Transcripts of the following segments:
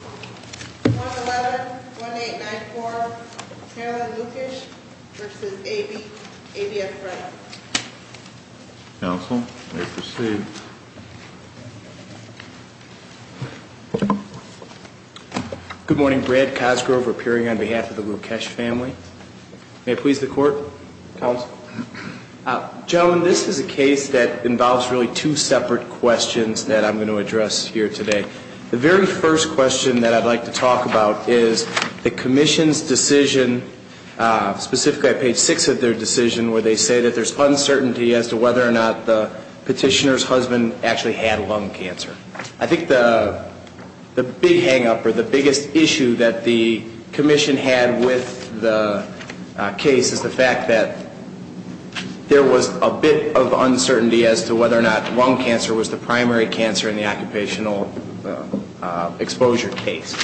111-1894, Marilyn Lukesh v. A.B. F. Freddo Counsel, you may proceed. Good morning, Brad Cosgrove, appearing on behalf of the Lukesh family. May I please the court? Counsel? Gentlemen, this is a case that involves really two separate questions that I'm going to address here today. The very first question that I'd like to talk about is the Commission's decision, specifically at page 6 of their decision, where they say that there's uncertainty as to whether or not the petitioner's husband actually had lung cancer. I think the big hang-up or the biggest issue that the Commission had with the case is the fact that there was a bit of uncertainty as to whether or not lung cancer was the primary cancer in the occupational exposure case.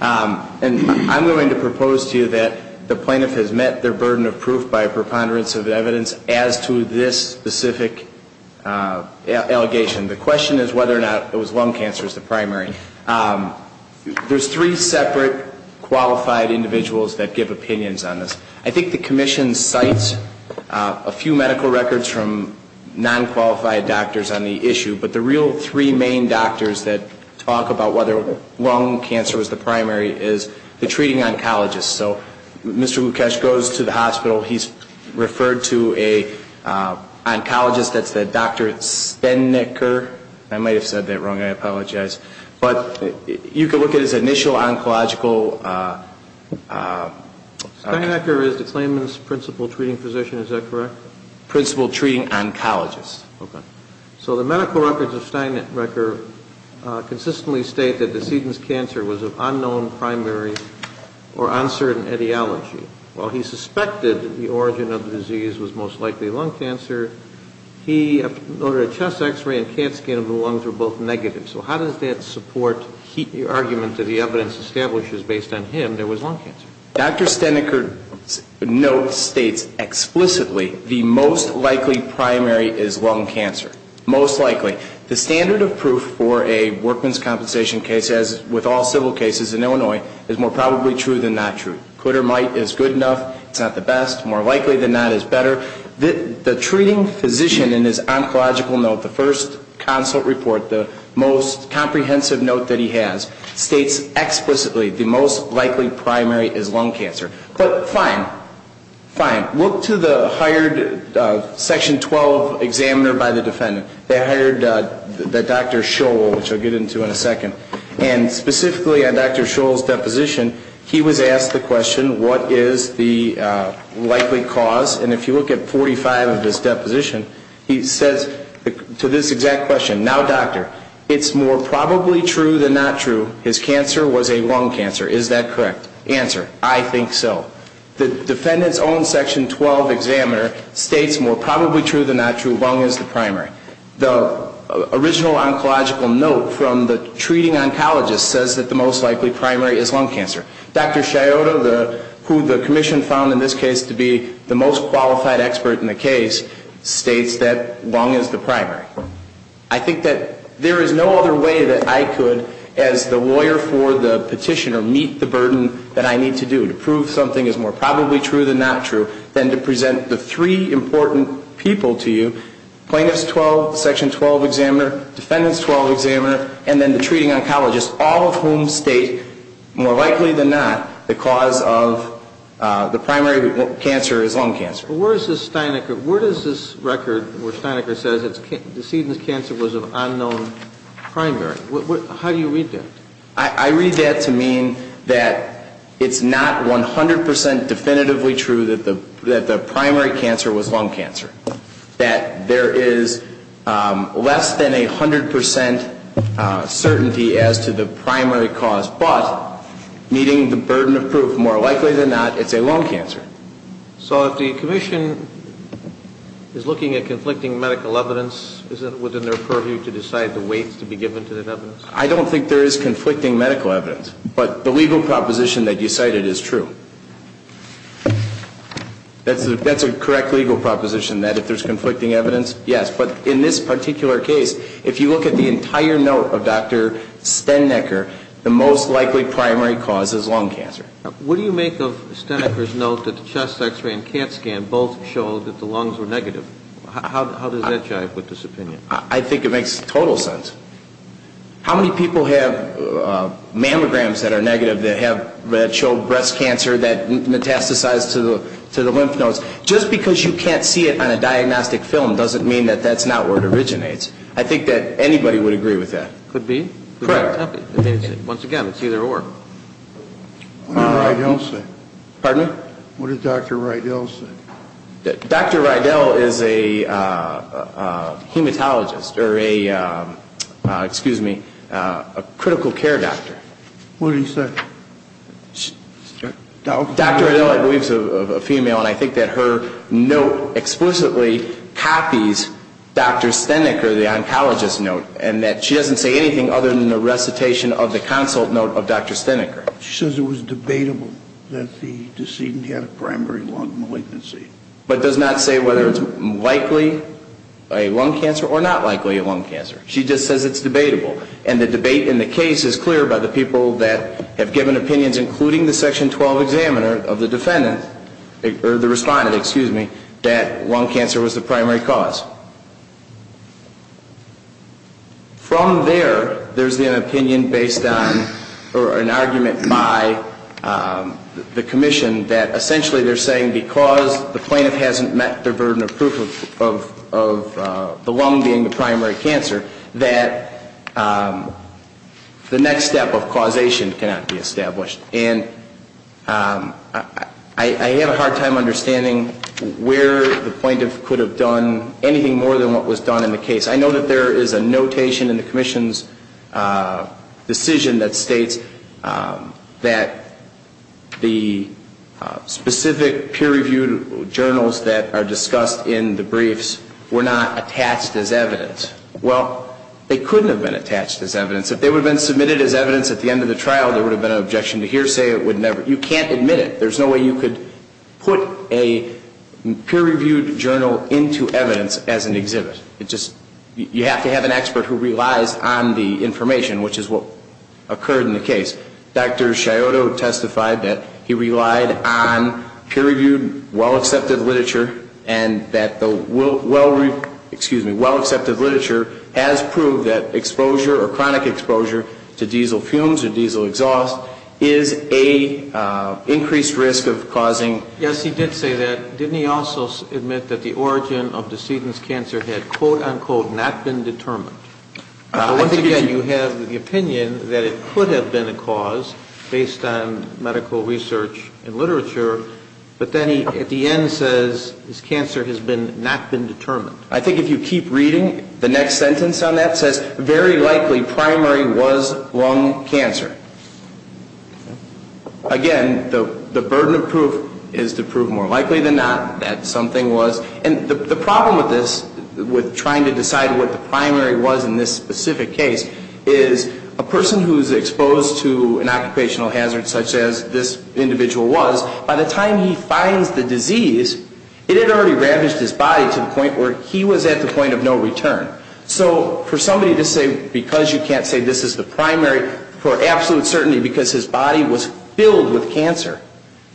And I'm going to propose to you that the plaintiff has met their burden of proof by a preponderance of evidence as to this specific allegation. The question is whether or not it was lung cancer as the primary. There's three separate qualified individuals that give opinions on this. I think the Commission cites a few medical records from non-qualified doctors on the issue. But the real three main doctors that talk about whether lung cancer was the primary is the treating oncologist. So Mr. Lukesh goes to the hospital. He's referred to an oncologist that's the Dr. Stennecker. I might have said that wrong. I apologize. But you can look at his initial oncological... Stennecker is the claimant's principal treating physician, is that correct? Principal treating oncologist. So the medical records of Stennecker consistently state that the sedent's cancer was of unknown primary or uncertain etiology. While he suspected that the origin of the disease was most likely lung cancer, he noted a chest X-ray and CAT scan of the lungs were both negative. So how does that support the argument that the evidence establishes based on him there was lung cancer? Dr. Stennecker's note states explicitly the most likely primary is lung cancer. Most likely. The standard of proof for a workman's compensation case, as with all civil cases in Illinois, is more probably true than not true. Could or might is good enough. It's not the best. More likely than not is better. The treating physician in his oncological note, the first consult report, the most comprehensive note that he has, states explicitly the most likely primary is lung cancer. But fine. Fine. Look to the hired Section 12 examiner by the defendant. They hired Dr. Scholl, which I'll get into in a second. And specifically on Dr. Scholl's deposition, he was asked the question, what is the likely cause? And if you look at 45 of his deposition, he says to this exact question, now doctor, it's more probably true than not true, his cancer was a lung cancer. Is that correct? Answer, I think so. The defendant's own Section 12 examiner states more probably true than not true, lung is the primary. The original oncological note from the treating oncologist says that the most likely primary is lung cancer. Dr. Scioto, who the commission found in this case to be the most qualified expert in the case, states that lung is the primary. I think that there is no other way that I could, as the lawyer for the petitioner, meet the burden that I need to do to prove something is more probably true than not true, than to present the three important people to you, plaintiff's 12, Section 12 examiner, defendant's 12 examiner, and then the treating oncologist, all of whom state, more likely than not, the cause of the primary cancer is lung cancer. But where is this Steinecker, where does this record where Steinecker says it's, decedent cancer was of unknown primary, how do you read that? I read that to mean that it's not 100% definitively true that the primary cancer was lung cancer. That there is less than a 100% certainty as to the primary cause, but meeting the burden of proof, more likely than not, it's a lung cancer. So if the commission is looking at conflicting medical evidence, isn't it within their purview to decide the weights to be given to that evidence? I don't think there is conflicting medical evidence, but the legal proposition that you cited is true. That's a correct legal proposition, that if there is conflicting evidence, yes. But in this particular case, if you look at the entire note of Dr. Steinecker, the most likely primary cause is lung cancer. What do you make of Steinecker's note that the chest x-ray and CAT scan both showed that the lungs were negative? How does that jive with this opinion? I think it makes total sense. How many people have mammograms that are negative that show breast cancer that metastasize to the lymph nodes? Just because you can't see it on a diagnostic film doesn't mean that that's not where it originates. I think that anybody would agree with that. Could be. Correct. Once again, it's either or. What did Rydell say? Pardon me? What did Dr. Rydell say? Dr. Rydell is a hematologist or a, excuse me, a critical care doctor. What did he say? Dr. Rydell, I believe, is a female, and I think that her note explicitly copies Dr. Steinecker, the oncologist's note, and that she doesn't say anything other than a recitation of the consult note of Dr. Steinecker. She says it was debatable that the decedent had a primary lung malignancy. But does not say whether it's likely a lung cancer or not likely a lung cancer. She just says it's debatable. And the debate in the case is clear by the people that have given opinions, including the Section 12 examiner of the defendant, or the respondent, excuse me, that lung cancer was the primary cause. From there, there's been an opinion based on or an argument by the commission that essentially they're saying because the plaintiff hasn't met the burden of proof of the lung being the primary cancer, that the next step of causation cannot be established. And I have a hard time understanding where the plaintiff could have done anything more than what was done in the case. I know that there is a notation in the commission's decision that states that the specific peer-reviewed journals that are discussed in the briefs were not attached as evidence. Well, they couldn't have been attached as evidence. If they would have been submitted as evidence at the end of the trial, there would have been an objection to hearsay. You can't admit it. There's no way you could put a peer-reviewed journal into evidence as an exhibit. You have to have an expert who relies on the information, which is what occurred in the case. Dr. Scioto testified that he relied on peer-reviewed, well-accepted literature, and that the well-reviewed, excuse me, well-accepted literature has proved that exposure or chronic exposure to diesel fumes or diesel exhaust is an increased risk of causing. Yes, he did say that. Didn't he also admit that the origin of the sedent's cancer had, quote, unquote, not been determined? Once again, you have the opinion that it could have been a cause based on medical research and literature, but then he, at the end, says his cancer has not been determined. I think if you keep reading, the next sentence on that says, very likely primary was lung cancer. Again, the burden of proof is to prove more likely than not that something was. And the problem with this, with trying to decide what the primary was in this specific case, is a person who's exposed to an occupational hazard such as this individual was, by the time he finds the disease, it had already ravaged his body to the point where he was at the point of no return. So for somebody to say, because you can't say this is the primary, for absolute certainty because his body was filled with cancer,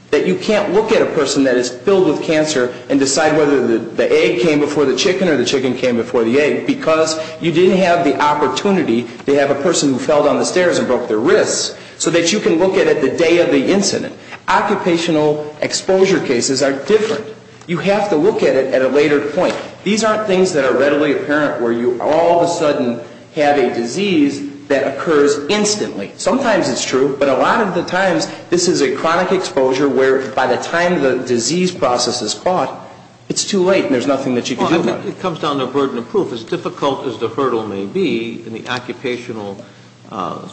that you can't look at a person that is filled with cancer and decide whether the egg came before the chicken or the chicken came before the egg because you didn't have the opportunity to have a person who fell down the stairs and broke their wrists so that you can look at it the day of the incident. Occupational exposure cases are different. You have to look at it at a later point. These aren't things that are readily apparent where you all of a sudden have a disease that occurs instantly. Sometimes it's true, but a lot of the times this is a chronic exposure where by the time the disease process is caught, it's too late and there's nothing that you can do about it. It comes down to a burden of proof. As difficult as the hurdle may be in the occupational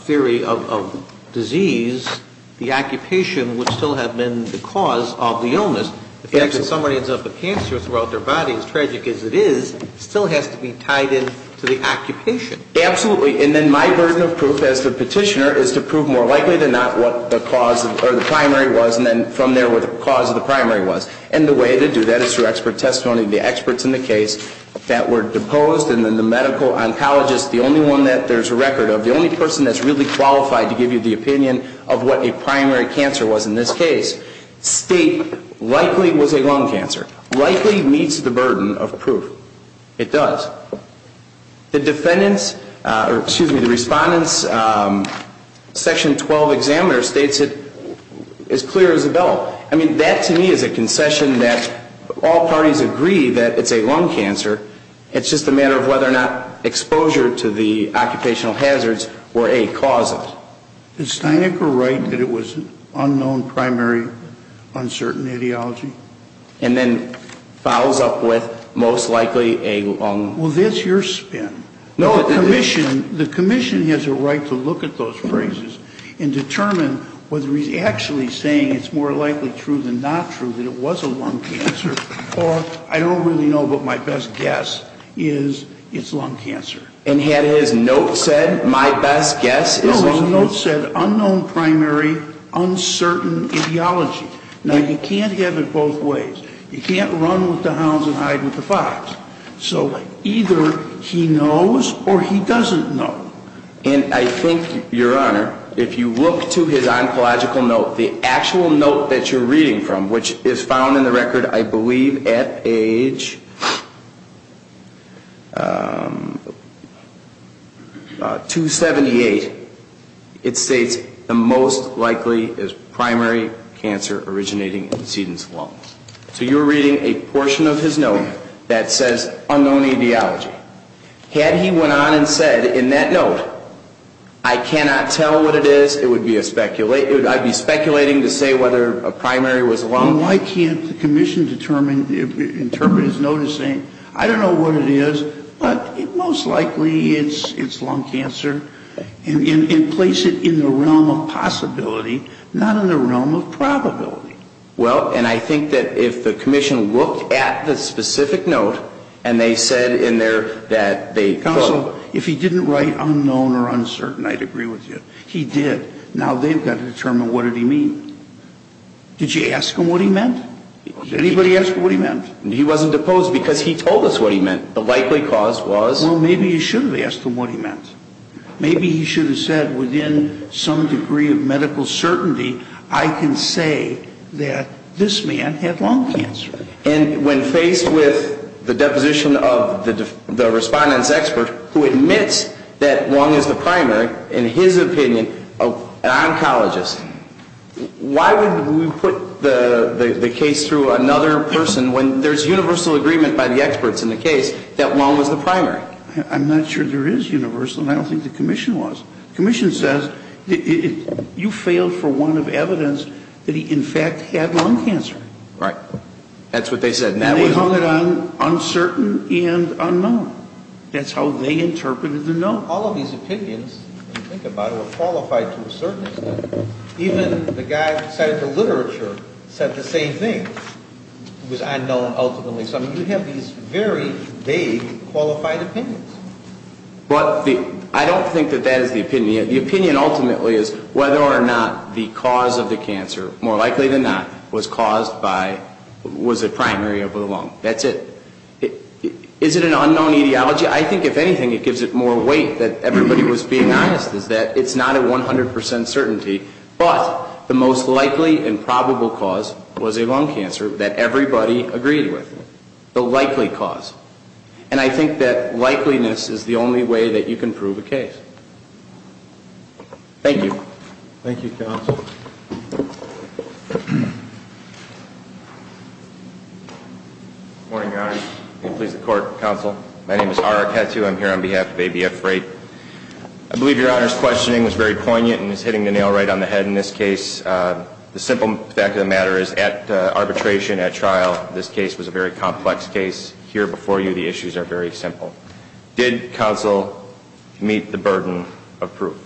theory of disease, the occupation would still have been the cause of the illness. The fact that somebody ends up with cancer throughout their body, as tragic as it is, still has to be tied in to the occupation. Absolutely. And then my burden of proof as the petitioner is to prove more likely than not what the cause or the primary was and then from there what the cause of the primary was. And the way to do that is through expert testimony. The experts in the case that were deposed and then the medical oncologist, the only one that there's a record of, the only person that's really qualified to give you the opinion of what a primary cancer was in this case, state likely was a lung cancer. Likely meets the burden of proof. It does. The defendant's, or excuse me, the respondent's section 12 examiner states it as clear as a bell. I mean, that to me is a concession that all parties agree that it's a lung cancer. It's just a matter of whether or not exposure to the occupational hazards were a cause of it. Is Steinecker right that it was an unknown primary, uncertain ideology? And then follows up with most likely a lung. Well, that's your spin. No, the commission has a right to look at those phrases and determine whether he's actually saying it's more likely true than not true that it was a lung cancer or I don't really know, but my best guess is it's lung cancer. And had his note said, my best guess is a lung cancer? No, his note said unknown primary, uncertain ideology. Now, you can't have it both ways. You can't run with the hounds and hide with the fox. So either he knows or he doesn't know. And I think, Your Honor, if you look to his oncological note, the actual note that you're reading from, which is found in the record I believe at age 278, it states the most likely is primary cancer originating in the sedent's lung. So you're reading a portion of his note that says unknown ideology. Had he went on and said in that note, I cannot tell what it is, I'd be speculating to say whether a primary was lung. Well, why can't the commission determine, interpret his note as saying, I don't know what it is, but most likely it's lung cancer and place it in the realm of possibility, not in the realm of probability. Well, and I think that if the commission looked at the specific note and they said in there that they, quote, Counsel, if he didn't write unknown or uncertain, I'd agree with you. He did. Now they've got to determine what did he mean. Did you ask him what he meant? Did anybody ask him what he meant? He wasn't deposed because he told us what he meant. The likely cause was? Well, maybe you should have asked him what he meant. Maybe he should have said within some degree of medical certainty, I can say that this man had lung cancer. And when faced with the deposition of the respondent's expert, who admits that lung is the primary, in his opinion, an oncologist, why would we put the case through another person when there's universal agreement by the experts in the case that lung was the primary? I'm not sure there is universal, and I don't think the commission was. The commission says you failed for one of evidence that he, in fact, had lung cancer. Right. That's what they said. And they hung it on uncertain and unknown. That's how they interpreted the note. All of these opinions, when you think about it, were qualified to a certain extent. Even the guy who cited the literature said the same thing. It was unknown ultimately. So, I mean, you have these very vague qualified opinions. But I don't think that that is the opinion. The opinion ultimately is whether or not the cause of the cancer, more likely than not, was caused by, was the primary of the lung. That's it. Is it an unknown etiology? I think, if anything, it gives it more weight that everybody was being honest, is that it's not a 100 percent certainty, but the most likely and probable cause was a lung cancer that everybody agreed with. The likely cause. And I think that likeliness is the only way that you can prove a case. Thank you. Thank you, Counsel. Good morning, Your Honor. May it please the Court, Counsel. My name is Arik Hatu. I'm here on behalf of ABF Freight. I believe Your Honor's questioning was very poignant and is hitting the nail right on the head in this case. The simple fact of the matter is, at arbitration, at trial, this case was a very complex case. Here before you, the issues are very simple. Did Counsel meet the burden of proof?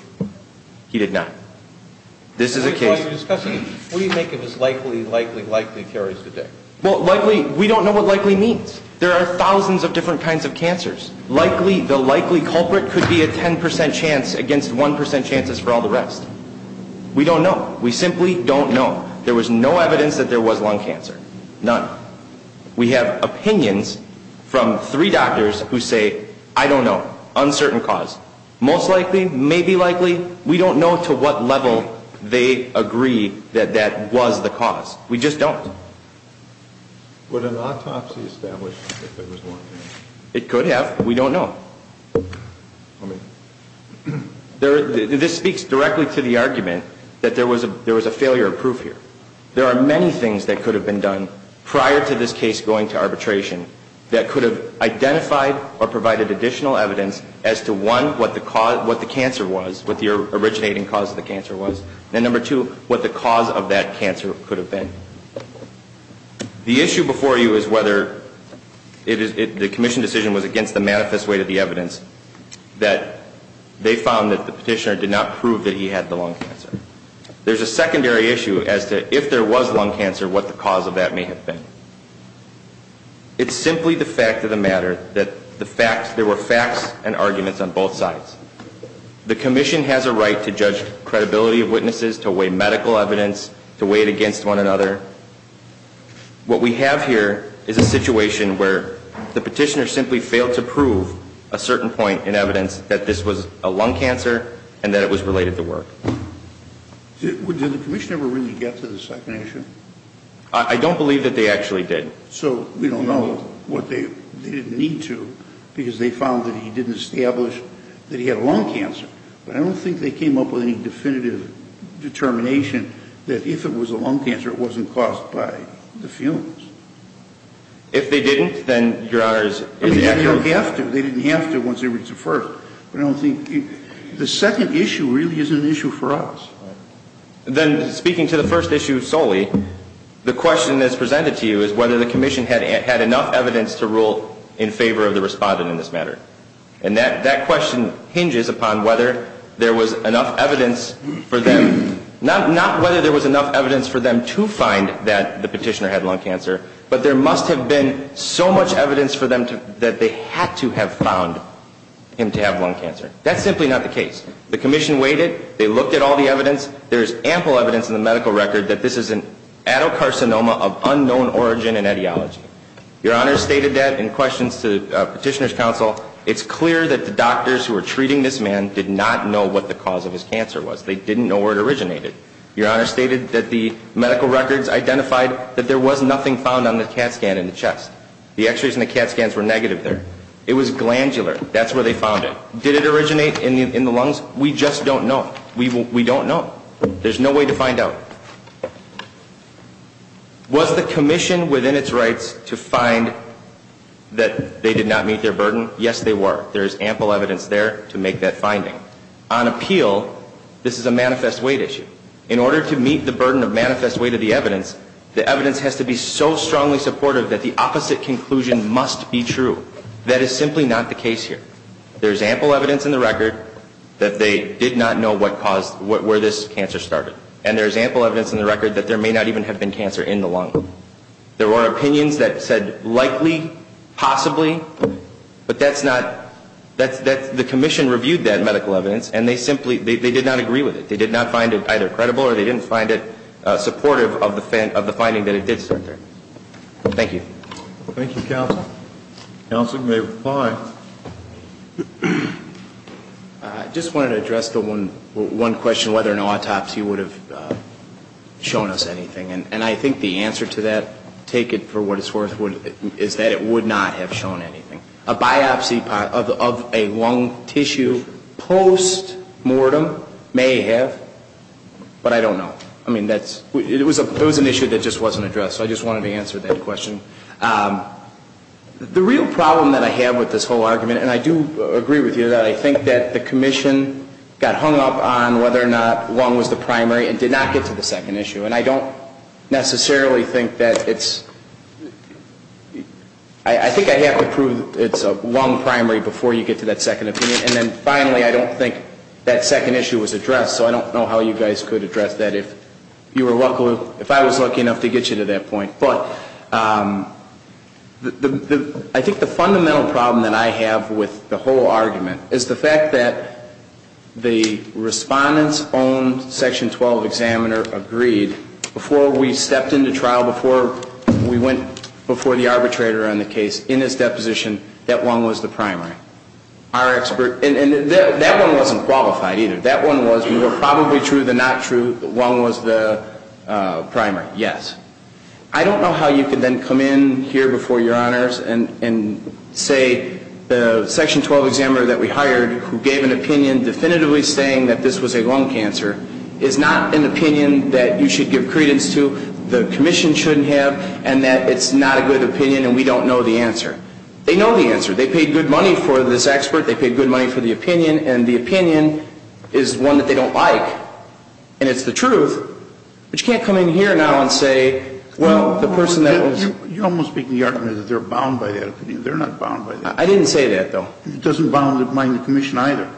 He did not. This is a case. What do you make of this likely, likely, likely theory today? Well, likely, we don't know what likely means. There are thousands of different kinds of cancers. Likely, the likely culprit could be a 10 percent chance against 1 percent chances for all the rest. We don't know. We simply don't know. There was no evidence that there was lung cancer. None. We have opinions from three doctors who say, I don't know, uncertain cause. Most likely, maybe likely, we don't know to what level they agree that that was the cause. We just don't. Would an autopsy establish if there was lung cancer? It could have. We don't know. This speaks directly to the argument that there was a failure of proof here. There are many things that could have been done prior to this case going to arbitration that could have identified or provided additional evidence as to, one, what the cancer was, what the originating cause of the cancer was, and, number two, what the cause of that cancer could have been. The issue before you is whether the commission decision was against the manifest way to the evidence that they found that the petitioner did not prove that he had the lung cancer. There's a secondary issue as to if there was lung cancer, what the cause of that may have been. It's simply the fact of the matter that there were facts and arguments on both sides. The commission has a right to judge credibility of witnesses, to weigh medical evidence, to weigh it against one another. What we have here is a situation where the petitioner simply failed to prove a certain point in evidence that this was a lung cancer and that it was related to work. Did the commission ever really get to the secondary issue? I don't believe that they actually did. So we don't know what they didn't need to, because they found that he didn't establish that he had lung cancer. But I don't think they came up with any definitive determination that if it was a lung cancer, it wasn't caused by the fumes. If they didn't, then Your Honor is accurate. They don't have to. They didn't have to once they reached the first. The second issue really isn't an issue for us. Then speaking to the first issue solely, the question that's presented to you is whether the commission had enough evidence to rule in favor of the respondent in this matter. And that question hinges upon whether there was enough evidence for them, not whether there was enough evidence for them to find that the petitioner had lung cancer, but there must have been so much evidence for them that they had to have found him to have lung cancer. That's simply not the case. The commission waited. They looked at all the evidence. There is ample evidence in the medical record that this is an adalcarcinoma of unknown origin and etiology. Your Honor stated that in questions to the Petitioner's Counsel. It's clear that the doctors who were treating this man did not know what the cause of his cancer was. They didn't know where it originated. Your Honor stated that the medical records identified that there was nothing found on the CAT scan in the chest. The x-rays and the CAT scans were negative there. It was glandular. That's where they found it. Did it originate in the lungs? We just don't know. We don't know. There's no way to find out. Was the commission within its rights to find that they did not meet their burden? Yes, they were. There is ample evidence there to make that finding. On appeal, this is a manifest weight issue. In order to meet the burden of manifest weight of the evidence, the evidence has to be so strongly supportive that the opposite conclusion must be true. That is simply not the case here. There is ample evidence in the record that they did not know where this cancer started. And there is ample evidence in the record that there may not even have been cancer in the lung. There were opinions that said likely, possibly. But the commission reviewed that medical evidence and they did not agree with it. They did not find it either credible or they didn't find it supportive of the finding that it did start there. Thank you. Thank you, Counsel. Counsel, you may reply. I just wanted to address one question, whether an autopsy would have shown us anything. And I think the answer to that, take it for what it's worth, is that it would not have shown anything. A biopsy of a lung tissue post-mortem may have, but I don't know. I mean, it was an issue that just wasn't addressed. So I just wanted to answer that question. The real problem that I have with this whole argument, and I do agree with you on that, I think that the commission got hung up on whether or not lung was the primary and did not get to the second issue. And I don't necessarily think that it's, I think I have to prove it's a lung primary before you get to that second opinion. And then finally, I don't think that second issue was addressed. So I don't know how you guys could address that if you were lucky, if I was lucky enough to get you to that point. But I think the fundamental problem that I have with the whole argument is the fact that the respondent's own Section 12 examiner agreed, before we stepped into trial, before we went before the arbitrator on the case, in his deposition, that lung was the primary. Our expert, and that one wasn't qualified either. That one was more probably true than not true, lung was the primary, yes. I don't know how you could then come in here before your honors and say the Section 12 examiner that we hired, who gave an opinion definitively saying that this was a lung cancer, is not an opinion that you should give credence to, the commission shouldn't have, and that it's not a good opinion and we don't know the answer. They know the answer. They paid good money for this expert. They paid good money for the opinion. And the opinion is one that they don't like. And it's the truth. But you can't come in here now and say, well, the person that was. You're almost making the argument that they're bound by that opinion. They're not bound by that opinion. I didn't say that, though. It doesn't bind the commission either.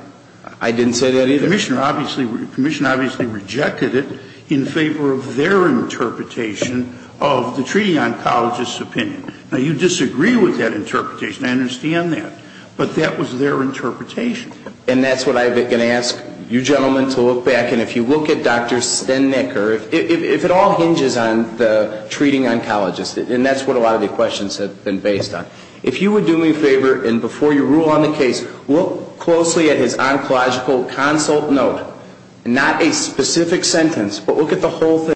I didn't say that either. The commission obviously rejected it in favor of their interpretation of the treating oncologist's opinion. Now, you disagree with that interpretation. I understand that. But that was their interpretation. And that's what I'm going to ask you gentlemen to look back. And if you look at Dr. Stennecker, if it all hinges on the treating oncologist, and that's what a lot of the questions have been based on, if you would do me a favor, and before you rule on the case, look closely at his oncological consult note. Not a specific sentence, but look at the whole thing.